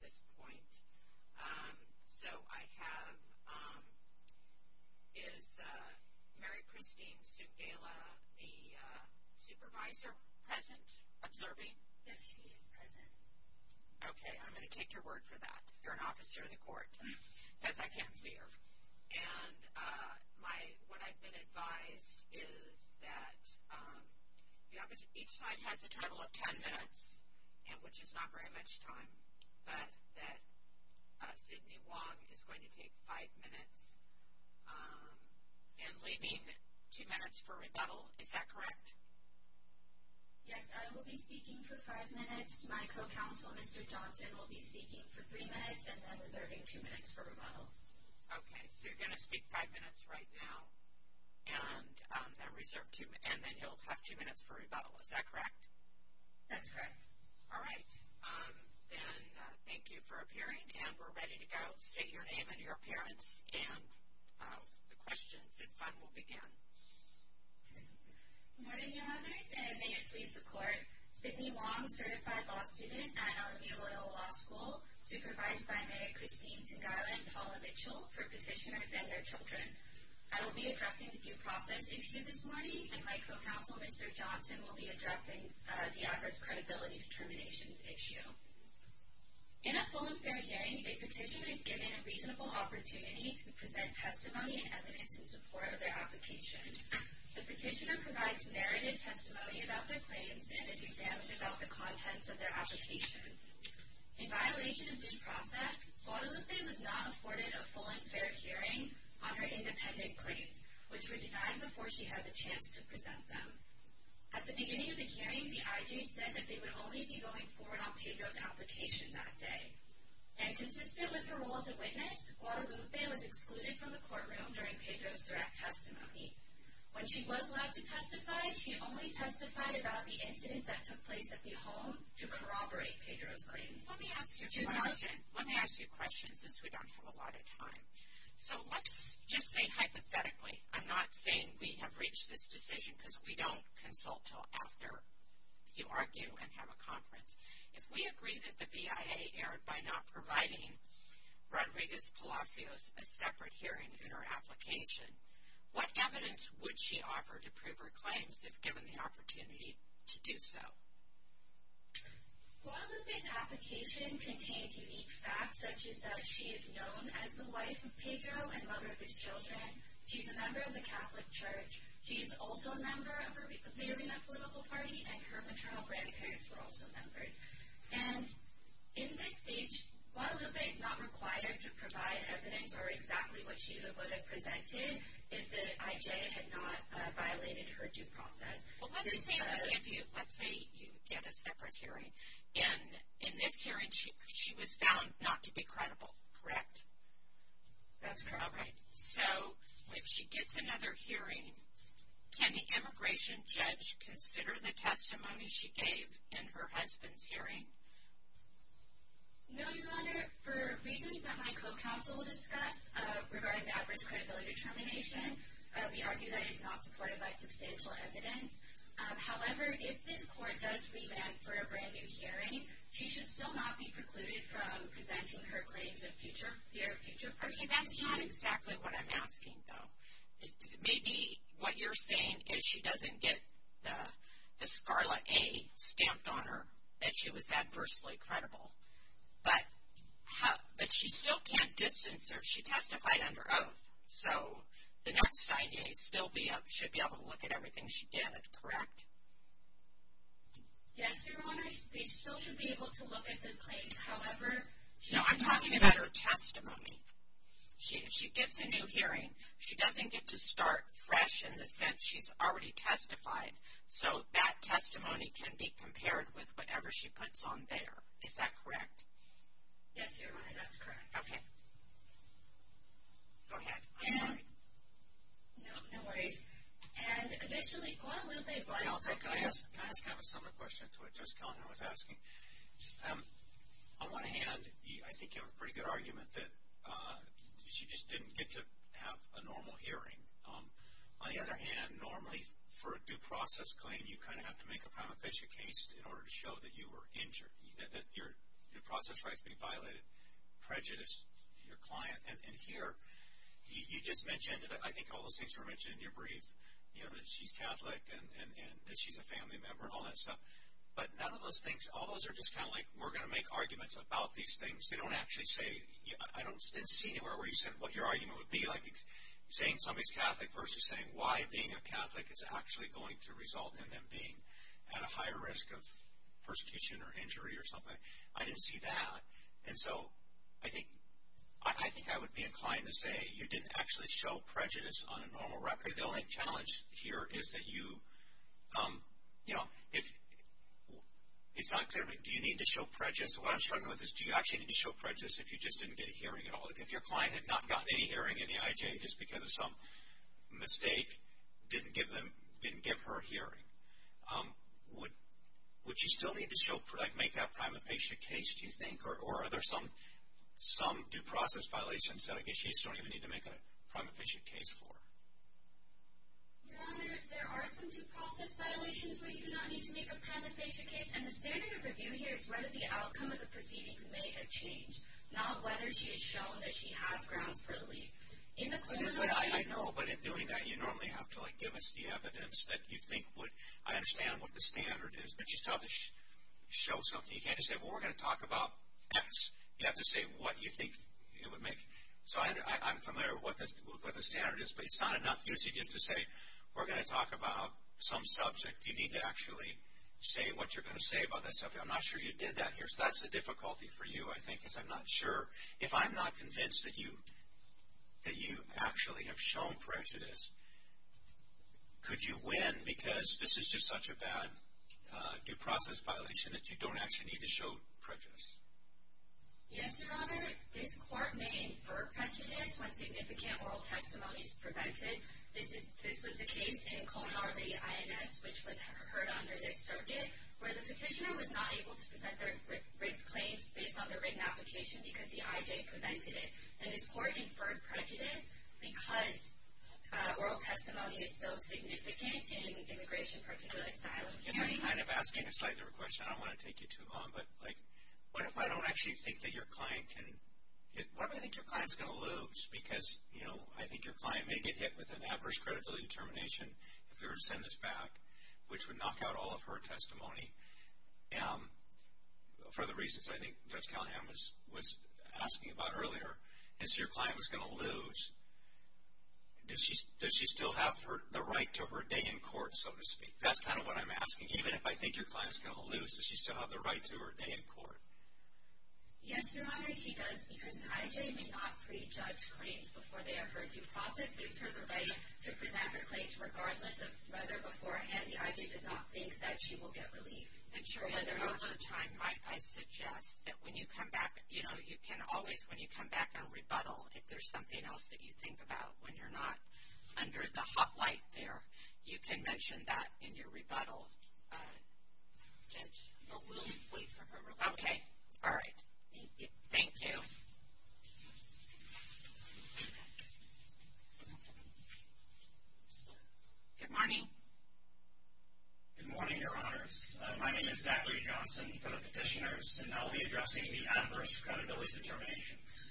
at this point. So I have, is Mary Christine Sugaila the supervisor present, observing? Yes, she is present. Okay, I'm going to take your word for that. You're an officer in the court, as I can see her. And what I've been advised is that each side has a total of ten minutes, which is not very much time. But that Sidney Wong is going to take five minutes and leaving two minutes for rebuttal, is that correct? Yes, I will be speaking for five minutes. My co-counsel, Mr. Johnson, will be speaking for three minutes and then reserving two minutes for rebuttal. Okay, so you're going to speak five minutes right now and then you'll have two minutes for rebuttal, is that correct? That's correct. All right, then thank you for appearing and we're ready to go. Say your name and your appearance and the questions and fun will begin. Good morning, Your Honors, and may it please the court. Sidney Wong, certified law student at Alameda Loyola Law School, supervised by Merrick Christine Sugaila and Paula Mitchell for petitioners and their children. I will be addressing the due process issue this morning and my co-counsel, Mr. Johnson, will be addressing the adverse credibility determinations issue. In a full and fair hearing, a petitioner is given a reasonable opportunity to present testimony and evidence in support of their application. The petitioner provides merited testimony about their claims and is examined about the contents of their application. In violation of this process, Guadalupe was not afforded a full and fair hearing on her independent claims, which were denied before she had the chance to present them. At the beginning of the hearing, the IG said that they would only be going forward on Pedro's application that day. And consistent with her role as a witness, Guadalupe was excluded from the courtroom during Pedro's direct testimony. When she was allowed to testify, she only testified about the incident that took place at the home to corroborate Pedro's claims. Let me ask you a question since we don't have a lot of time. So let's just say hypothetically, I'm not saying we have reached this decision because we don't consult until after you argue and have a conference. If we agree that the BIA erred by not providing Rodriguez-Palacios a separate hearing in her application, what evidence would she offer to prove her claims if given the opportunity to do so? Guadalupe's application contained unique facts, such as that she is known as the wife of Pedro and mother of his children, she's a member of the Catholic Church, she is also a member of her favorite political party, and her maternal grandparents were also members. And in this case, Guadalupe is not required to provide evidence or exactly what she would have presented if the IG had not violated her due process. Let's say you get a separate hearing. In this hearing, she was found not to be credible, correct? That's correct. All right. So if she gets another hearing, can the immigration judge consider the testimony she gave in her husband's hearing? No, Your Honor. For reasons that my co-counsel will discuss regarding the adverse credibility determination, we argue that it is not supported by substantial evidence. However, if this court does revamp for a brand-new hearing, she should still not be precluded from presenting her claims in a future hearing. That's not exactly what I'm asking, though. Maybe what you're saying is she doesn't get the Scarlet A stamped on her, that she was adversely credible. But she still can't distance herself. She testified under oath. So the next IG should be able to look at everything she did, correct? Yes, Your Honor. They still should be able to look at the claims, however. No, I'm talking about her testimony. She gets a new hearing. She doesn't get to start fresh in the sense she's already testified. So that testimony can be compared with whatever she puts on there. Is that correct? Yes, Your Honor. That's correct. Okay. Go ahead. I'm sorry. No, no worries. And additionally, quite a little bit of bias. Can I ask kind of a similar question to what Judge Kellner was asking? On one hand, I think you have a pretty good argument that she just didn't get to have a normal hearing. On the other hand, normally for a due process claim, you kind of have to make a prima facie case in order to show that you were injured, that your process rights were being violated, prejudiced your client. And here, you just mentioned that I think all those things were mentioned in your brief, you know, that she's Catholic and that she's a family member and all that stuff. But none of those things, all those are just kind of like we're going to make arguments about these things. They don't actually say, I didn't see anywhere where you said what your argument would be. Like saying somebody's Catholic versus saying why being a Catholic is actually going to result in them being at a higher risk of persecution or injury or something. I didn't see that. And so I think I would be inclined to say you didn't actually show prejudice on a normal record. The only challenge here is that you, you know, it's not clear, do you need to show prejudice? What I'm struggling with is do you actually need to show prejudice if you just didn't get a hearing at all? If your client had not gotten any hearing in the IJ just because of some mistake, didn't give her a hearing. Would she still need to show, like make that prima facie case, do you think? Or are there some due process violations that I guess she doesn't even need to make a prima facie case for? Your Honor, there are some due process violations where you do not need to make a prima facie case. And the standard of review here is whether the outcome of the proceedings may have changed, not whether she has shown that she has grounds for relief. I know, but in doing that you normally have to like give us the evidence that you think would, I understand what the standard is, but you still have to show something. You can't just say, well, we're going to talk about X. You have to say what you think it would make. So I'm familiar with what the standard is, but it's not enough usually just to say we're going to talk about some subject. You need to actually say what you're going to say about that subject. I'm not sure you did that here. So that's the difficulty for you, I think, is I'm not sure. If I'm not convinced that you actually have shown prejudice, could you win because this is just such a bad due process violation that you don't actually need to show prejudice? Yes, Your Honor. This court may infer prejudice when significant oral testimony is prevented. This was the case in Kona, RV, INS, which was heard under this circuit, where the petitioner was not able to present their written claims based on their written application because the IJ prevented it. And this court inferred prejudice because oral testimony is so significant in immigration, particularly asylum. I guess I'm kind of asking a slightly different question. I don't want to take you too long, but, like, what if I don't actually think that your client can – what do I think your client's going to lose? Because, you know, I think your client may get hit with an adverse credibility determination if they were to send this back, which would knock out all of her testimony, for the reasons I think Judge Callahan was asking about earlier. And so your client was going to lose. Does she still have the right to her day in court, so to speak? That's kind of what I'm asking. Even if I think your client's going to lose, does she still have the right to her day in court? Yes, Your Honor, she does, because an IJ may not prejudge claims before they have heard due process. It gives her the right to present her claims regardless of whether beforehand the IJ does not think that she will get relief. And, Your Honor, over time, I suggest that when you come back, you know, you can always, when you come back on rebuttal, if there's something else that you think about, when you're not under the hot light there, you can mention that in your rebuttal, Judge. We'll wait for her rebuttal. Okay. All right. Thank you. Thank you. Good morning. Good morning, Your Honors. My name is Zachary Johnson for the petitioners, and I'll be addressing the adverse credibility determinations.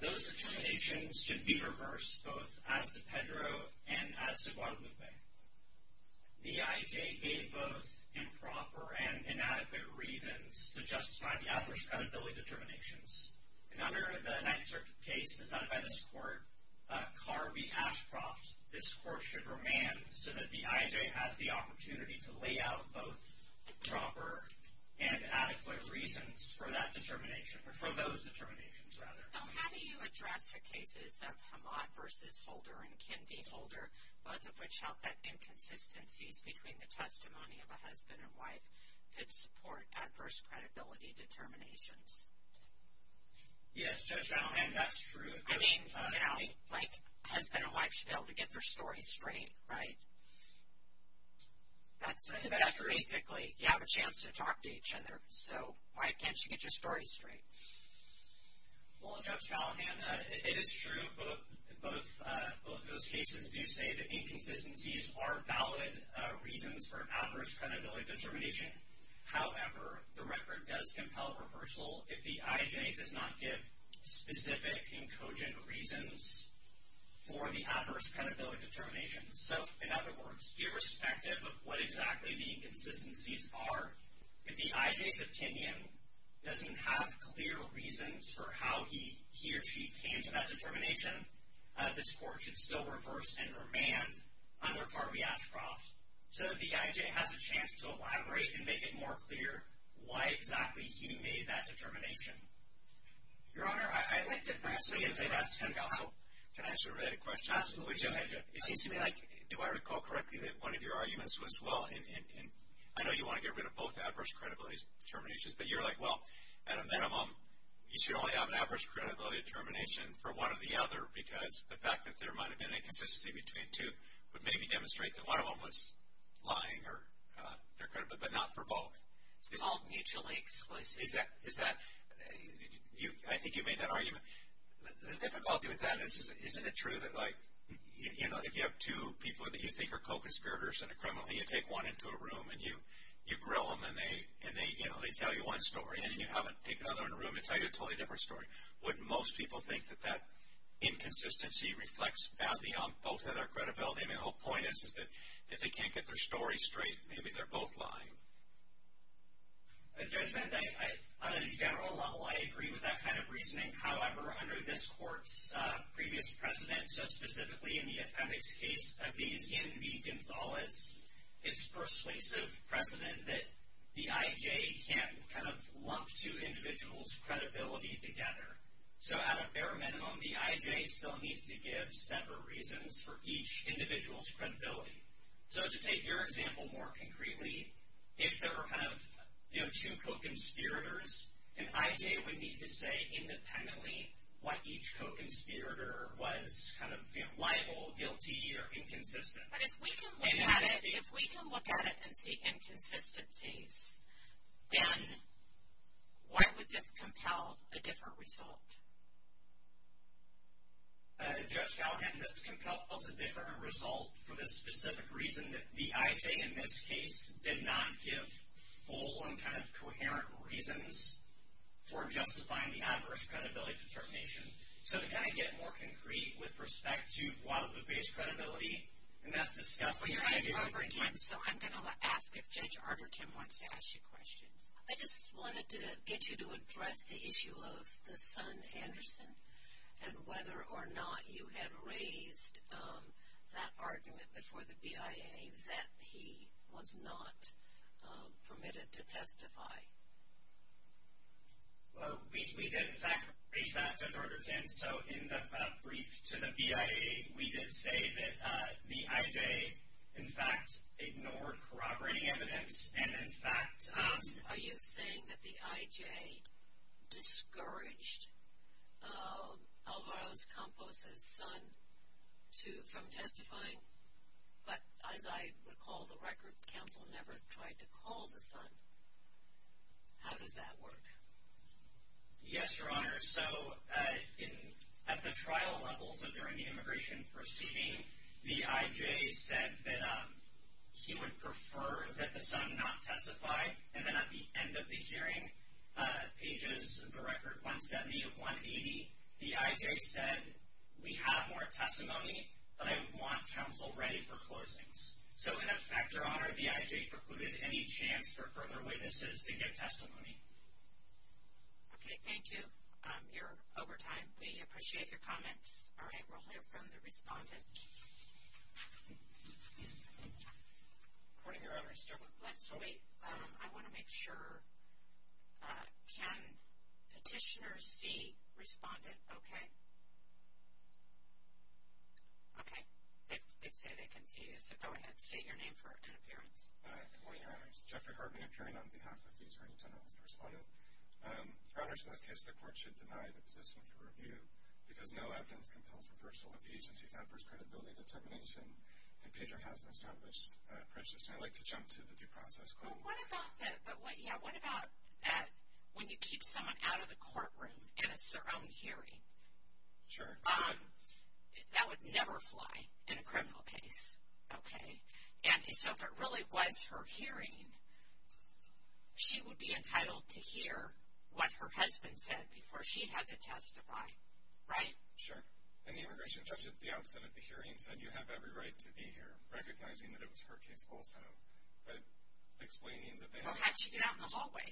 Those determinations should be reversed both as to Pedro and as to Guadalupe. The IJ gave both improper and inadequate reasons to justify the adverse credibility determinations. And under the Ninth Circuit case decided by this court, Carvey-Ashcroft, this court should remand so that the IJ has the opportunity to lay out both proper and adequate reasons for that determination, or for those determinations, rather. So how do you address the cases of Hamad versus Holder and Kendi-Holder, both of which held that inconsistencies between the testimony of a husband and wife could support adverse credibility determinations? Yes, Judge Gallaghan, that's true. I mean, like husband and wife should be able to get their story straight, right? That's basically you have a chance to talk to each other, so why can't you get your story straight? Well, Judge Gallaghan, it is true. Both of those cases do say that inconsistencies are valid reasons for adverse credibility determination. However, the record does compel reversal if the IJ does not give specific and cogent reasons for the adverse credibility determinations. So, in other words, irrespective of what exactly the inconsistencies are, if the IJ's opinion doesn't have clear reasons for how he or she came to that determination, this Court should still reverse and remand under Harvey Ashcroft so that the IJ has a chance to elaborate and make it more clear why exactly he made that determination. Your Honor, I'd like to perhaps ask him how. Can I ask a related question? Absolutely. It seems to me like, do I recall correctly, that one of your arguments was, well, I know you want to get rid of both adverse credibility determinations, but you're like, well, at a minimum, you should only have an adverse credibility determination for one or the other because the fact that there might have been an inconsistency between the two would maybe demonstrate that one of them was lying, but not for both. It's all mutually explicit. I think you made that argument. The difficulty with that is, isn't it true that, like, you know, if you have two people that you think are co-conspirators in a criminal, you take one into a room, and you grill them, and they, you know, they tell you one story, and then you have to take another in a room and tell you a totally different story. Wouldn't most people think that that inconsistency reflects badly on both of their credibility? I mean, the whole point is that if they can't get their story straight, maybe they're both lying. Judgment, on a general level, I agree with that kind of reasoning. However, under this court's previous precedent, so specifically in the appendix case of B.C. and B. Gonzalez, it's persuasive precedent that the I.J. can't kind of lump two individuals' credibility together. So at a bare minimum, the I.J. still needs to give several reasons for each individual's credibility. So to take your example more concretely, if there were kind of, you know, two co-conspirators, an I.J. would need to say independently what each co-conspirator was kind of liable, guilty, or inconsistent. But if we can look at it and see inconsistencies, then why would this compel a different result? Judge Gallagher, this compels a different result for the specific reason that the I.J. in this case did not give full and kind of coherent reasons for justifying the adverse credibility determination. So to kind of get more concrete with respect to Guadalupe's credibility, and that's discussed. I'm going to ask if Judge Arberton wants to ask you questions. I just wanted to get you to address the issue of the son, Anderson, and whether or not you had raised that argument before the BIA that he was not permitted to testify. Well, we did, in fact, reach back to Judge Arberton. So in the brief to the BIA, we did say that the I.J. in fact ignored corroborating evidence and in fact- Are you saying that the I.J. discouraged Alvaro Campos' son from testifying? But as I recall the record, counsel never tried to call the son. How does that work? Yes, Your Honor. So at the trial levels during the immigration proceeding, the I.J. said that he would prefer that the son not testify, and then at the end of the hearing, pages of the record 170 of 180, the I.J. said, we have more testimony, but I want counsel ready for closings. So in effect, Your Honor, the I.J. precluded any chance for further witnesses to give testimony. Okay, thank you. You're over time. We appreciate your comments. All right, we'll hear from the respondent. Good morning, Your Honors. Let's wait. I want to make sure. Can petitioners see respondent? Okay. Okay. They say they can see you, so go ahead. State your name for an appearance. Good morning, Your Honors. Jeffrey Hartman appearing on behalf of the Attorney General as the respondent. Your Honors, in this case, the court should deny the position for review because no evidence compels reversal of the agency's adverse credibility determination. And Pedro has an established prejudice, and I'd like to jump to the due process. But what about that when you keep someone out of the courtroom and it's their own hearing? Sure. That would never fly in a criminal case, okay? And so if it really was her hearing, she would be entitled to hear what her husband said before she had to testify, right? Sure. And the immigration judge at the outset of the hearing said you have every right to be here, recognizing that it was her case also, but explaining that they had to be excluded. Well, how did she get out in the hallway?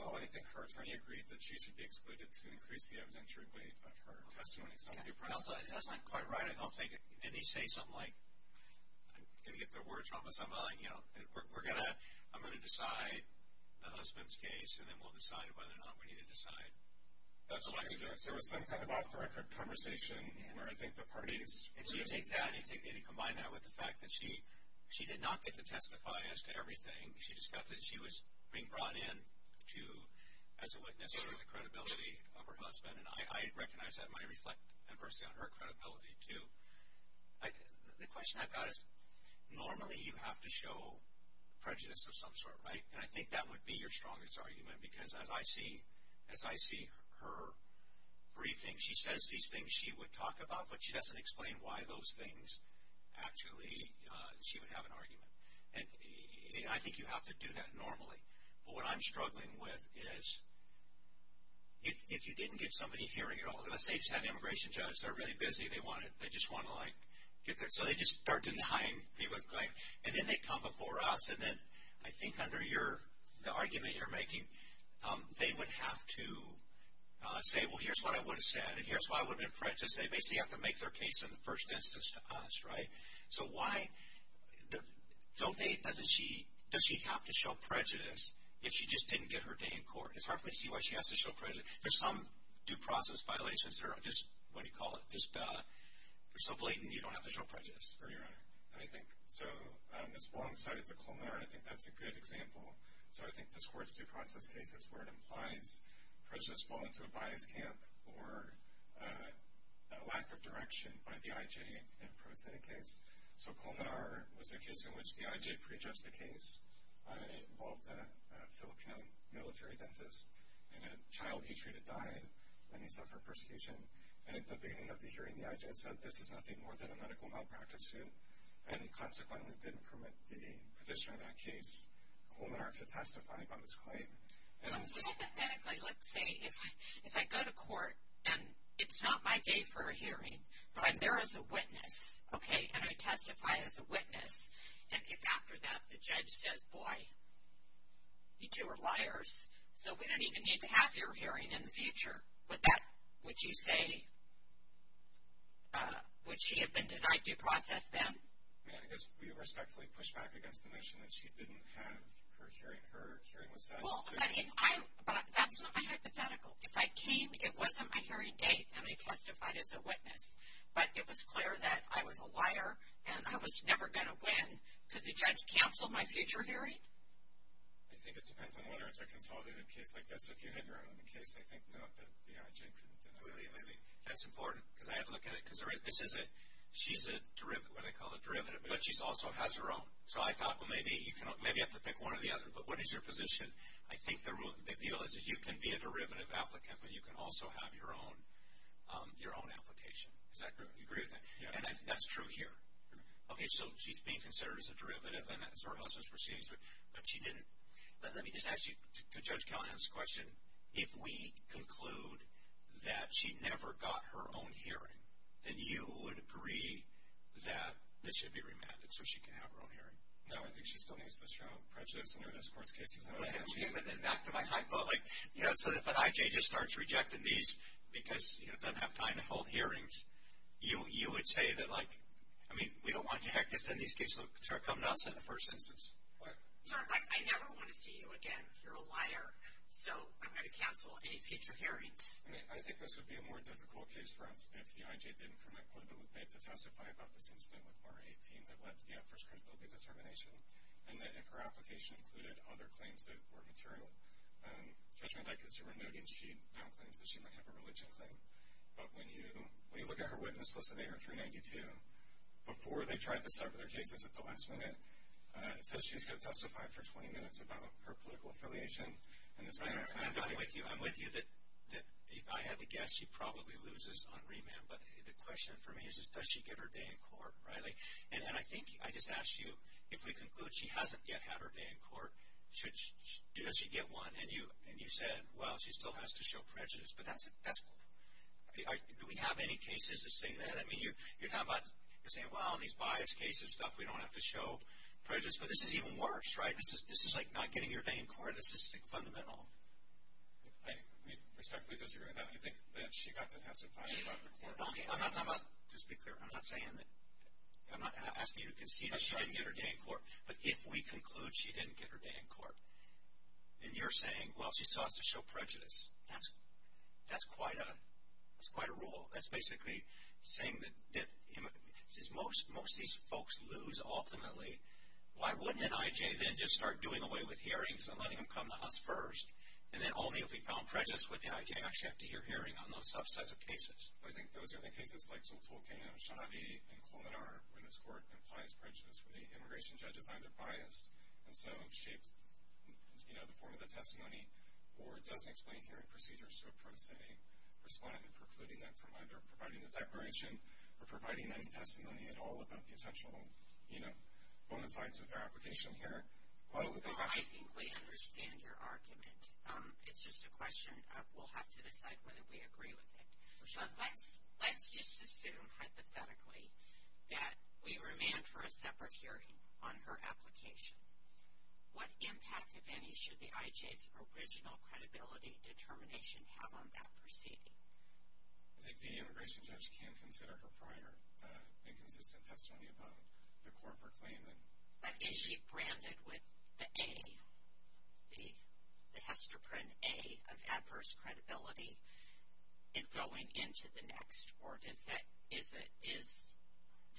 Well, I think her attorney agreed that she should be excluded to increase the evidentiary weight of her testimony. Okay. That's not quite right. I don't think any say something like, I'm going to get the words wrong with someone, you know, and I'm going to decide the husband's case, and then we'll decide whether or not we need to decide. That's true. There was some kind of off-the-record conversation where I think the parties. And so you take that and you combine that with the fact that she did not get to testify as to everything. She just got that she was being brought in to, as a witness, sort of the credibility of her husband, and I recognize that might reflect, conversely, on her credibility too. The question I've got is normally you have to show prejudice of some sort, right? And I think that would be your strongest argument, because as I see her briefing, she says these things she would talk about, but she doesn't explain why those things actually, she would have an argument. And I think you have to do that normally. But what I'm struggling with is if you didn't get somebody hearing at all. Let's say you just had an immigration judge. They're really busy. They just want to, like, get their. So they just start denying people's claim. And then they come before us. And then I think under the argument you're making, they would have to say, well, here's what I would have said, and here's why I would have been prejudiced. They basically have to make their case in the first instance to us, right? So why don't they, does she have to show prejudice if she just didn't get her day in court? It's hard for me to see why she has to show prejudice. There's some due process violations that are just, what do you call it, just so blatant you don't have to show prejudice. And I think so on this wrong side, it's a culminar, and I think that's a good example. So I think this court's due process case is where it implies prejudice fall into a bias camp or a lack of direction by the I.J. in a prosaic case. So culminar was a case in which the I.J. prejudged the case. It involved a Philippine military dentist. And a child he treated died, and he suffered persecution. And at the beginning of the hearing, the I.J. said, this is nothing more than a medical malpractice suit. And he consequently didn't permit the petitioner of that case, culminar, to testify upon this claim. Let's just hypothetically, let's say if I go to court and it's not my day for a hearing, but I'm there as a witness, okay, and I testify as a witness, and if after that the judge says, boy, you two are liars, so we don't even need to have your hearing in the future, would that, would you say, would she have been denied due process then? I mean, I guess we would respectfully push back against the notion that she didn't have her hearing, her hearing was satisfied. But that's not my hypothetical. If I came, it wasn't my hearing date, and I testified as a witness, but it was clear that I was a liar and I was never going to win, could the judge cancel my future hearing? I think it depends on whether it's a consolidated case like this. Well, if you have your own case, I think that the IG couldn't deny it. That's important, because I have to look at it, because this is a, she's a derivative, what do they call it, derivative, but she also has her own. So I thought, well, maybe you have to pick one or the other, but what is your position? I think the deal is that you can be a derivative applicant, but you can also have your own application. Is that correct? You agree with that? Yeah. And that's true here. Okay, so she's being considered as a derivative and that's her husband's proceedings, but she didn't, let me just ask you, to Judge Callahan's question, if we conclude that she never got her own hearing, then you would agree that this should be remanded so she can have her own hearing? No, I think she still needs to list her own prejudice under this court's cases. Okay, but then back to my hypo, like, you know, so if an IJ just starts rejecting these because, you know, doesn't have time to hold hearings, you would say that, like, I mean, we don't want you to have to send these cases to her. Come not send the first instance. What? Sir, like, I never want to see you again. You're a liar, so I'm going to cancel any future hearings. I think this would be a more difficult case for us if the IJ didn't commit to testify about this incident with Maura 18 that led to Danforth's credibility determination and that if her application included other claims that were material. Judgment, like, because you were noting she found claims that she might have a religion claim, but when you look at her witness list, they are 392. Before they tried to sever their cases at the last minute, it says she's got testified for 20 minutes about her political affiliation. I'm with you. I'm with you that if I had to guess, she probably loses on remand, but the question for me is just does she get her day in court, right? And I think I just asked you if we conclude she hasn't yet had her day in court, does she get one? And you said, well, she still has to show prejudice, but that's cool. Do we have any cases that say that? I mean, you're talking about, you're saying, well, in these biased cases and stuff, we don't have to show prejudice, but this is even worse, right? This is like not getting your day in court. This is fundamental. I respectfully disagree with that. You think that she got to testify about the court. Okay, I'm not talking about, just be clear, I'm not saying that. I'm not asking you to concede that she didn't get her day in court, but if we conclude she didn't get her day in court, then you're saying, well, she still has to show prejudice. That's quite a rule. That's basically saying that most of these folks lose ultimately. Why wouldn't NIJ then just start doing away with hearings and letting them come to us first? And then only if we found prejudice with NIJ actually have to hear hearing on those subsets of cases. I think those are the cases like Zoltolcain and Oshadi and Colmenar, where this court implies prejudice, where the immigration judge is either biased and so shapes the form of the testimony or doesn't explain hearing procedures to a pro se respondent, precluding them from either providing a declaration or providing any testimony at all about the essential bona fides of their application here. I think we understand your argument. It's just a question of we'll have to decide whether we agree with it. But let's just assume hypothetically that we remand for a separate hearing on her application. What impact, if any, should the IJ's original credibility determination have on that proceeding? I think the immigration judge can consider her prior inconsistent testimony about the corporate claim. But is she branded with the A, the hestoprene A of adverse credibility in going into the next? Or does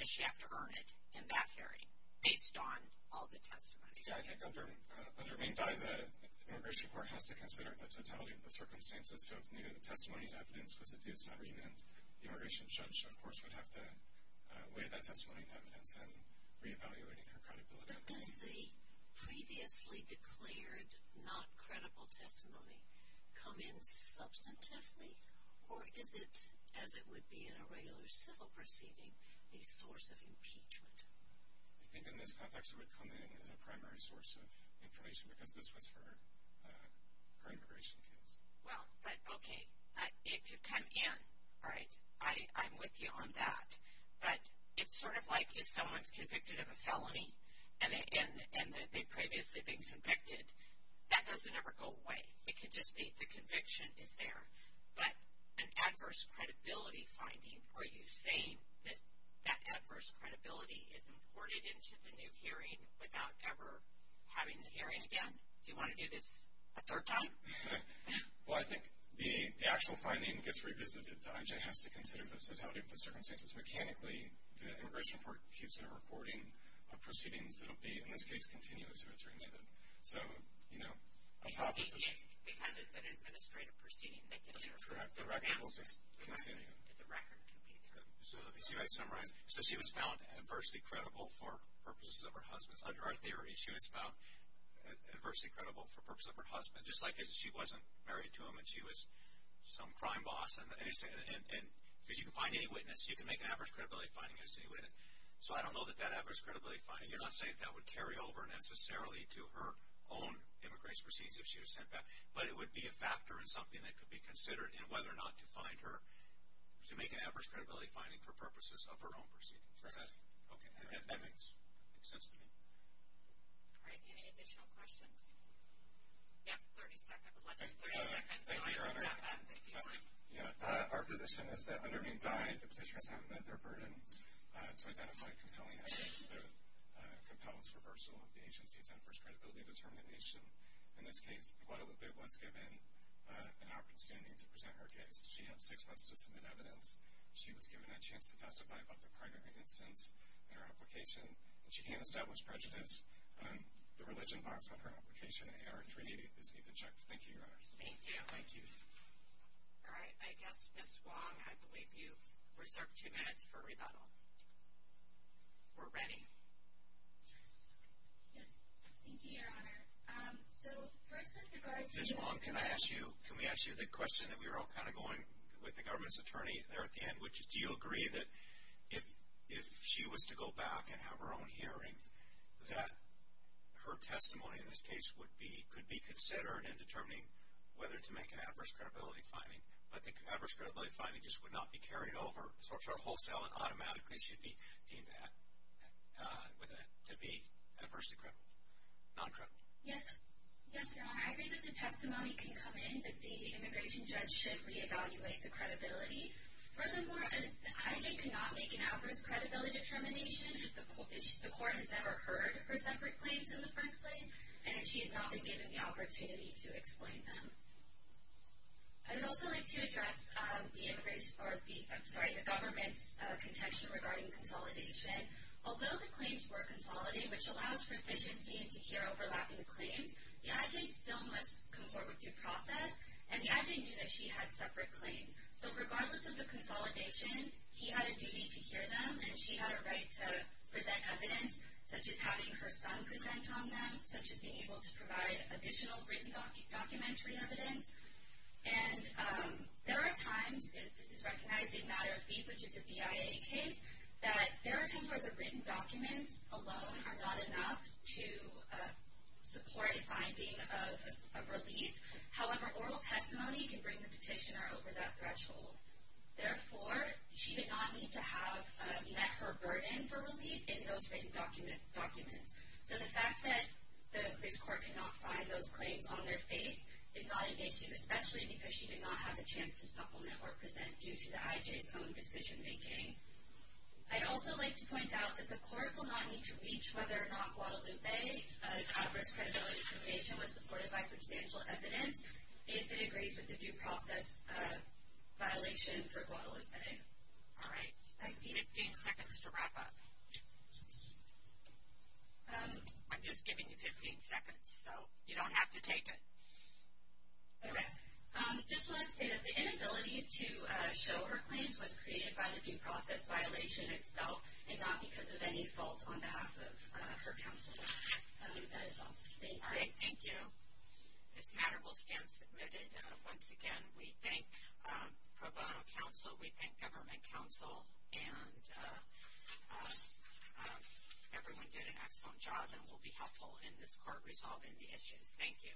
she have to earn it in that hearing, based on all the testimony? I think under Maimdai, the immigration court has to consider the totality of the circumstances. So if needed, a testimony of evidence was adduced on remand. The immigration judge, of course, would have to weigh that testimony in evidence and re-evaluate her credibility. But does the previously declared not credible testimony come in substantively? Or is it, as it would be in a regular civil proceeding, a source of impeachment? I think in this context it would come in as a primary source of information because this was her immigration case. Well, but okay, it could come in, right? I'm with you on that. But it's sort of like if someone's convicted of a felony and they've previously been convicted, that doesn't ever go away. It can just be the conviction is there. But an adverse credibility finding, are you saying that that adverse credibility is imported into the new hearing without ever having the hearing again? Do you want to do this a third time? Well, I think the actual finding gets revisited. The IJ has to consider the totality of the circumstances. Mechanically, the immigration court keeps a recording of proceedings that will be, in this case, continuously remanded. Because it's an administrative proceeding. Correct. The record will continue. The record will be there. So let me see if I can summarize. So she was found adversely credible for purposes of her husband. Under our theory, she was found adversely credible for purposes of her husband, just like she wasn't married to him and she was some crime boss. Because you can find any witness, you can make an adverse credibility finding as to any witness. So I don't know that that adverse credibility finding, you're not saying that would carry over necessarily to her own immigration proceedings if she was sent back. But it would be a factor and something that could be considered in whether or not to make an adverse credibility finding for purposes of her own proceedings. Okay. That makes sense to me. All right. Any additional questions? You have 30 seconds. Thank you, Your Honor. Our position is that under being died, the petitioner has not met their burden to identify compelling evidence that compels reversal of the agency's adverse credibility determination. In this case, Guadalupe was given an opportunity to present her case. She had six months to submit evidence. She was given a chance to testify about the primary instance in her application, but she can't establish prejudice. The religion box on her application, AR-3, is needed to check. Thank you, Your Honor. Thank you. Thank you. All right. I guess, Ms. Wong, I believe you reserved two minutes for rebuttal. We're ready. Yes. Thank you, Your Honor. So first of all, Ms. Wong, can I ask you, can we ask you the question that we were all kind of going with the government's attorney there at the end, which is do you agree that if she was to go back and have her own hearing, that her testimony in this case would be, could be considered in determining whether to make an adverse credibility finding. But the adverse credibility finding just would not be carried over, sort of wholesale, and automatically she would be deemed to be adversely credible, non-credible. Yes. Yes, Your Honor. I agree that the testimony can come in, that the immigration judge should reevaluate the credibility. Furthermore, the IG cannot make an adverse credibility determination if the court has never heard her separate claims in the first place and if she has not been given the opportunity to explain them. I would also like to address the government's contention regarding consolidation. Although the claims were consolidated, which allows for efficiency to hear overlapping claims, the IG still must come forward with due process, and the IG knew that she had separate claims. So regardless of the consolidation, he had a duty to hear them, and she had a right to present evidence, such as having her son present on them, such as being able to provide additional written documentary evidence. And there are times, and this is recognized in a matter of fee, which is a BIA case, that there are times where the written documents alone are not enough to support a finding of relief. However, oral testimony can bring the petitioner over that threshold. Therefore, she did not need to have met her burden for relief in those written documents. So the fact that this court cannot find those claims on their face is not an issue, especially because she did not have a chance to supplement or present due to the IG's own decision-making. I'd also like to point out that the court will not need to reach whether or not Guadalupe, an adverse credibility determination, was supported by substantial evidence if it agrees with the due process violation for Guadalupe. All right. Fifteen seconds to wrap up. I'm just giving you 15 seconds, so you don't have to take it. All right. Just wanted to say that the inability to show her claims was created by the due process violation itself and not because of any fault on behalf of her counsel. That is all. Thank you. All right. Thank you. This matter will stand submitted. Once again, we thank pro bono counsel, we thank government counsel, and everyone did an excellent job and will be helpful in this court resolving the issues. Thank you.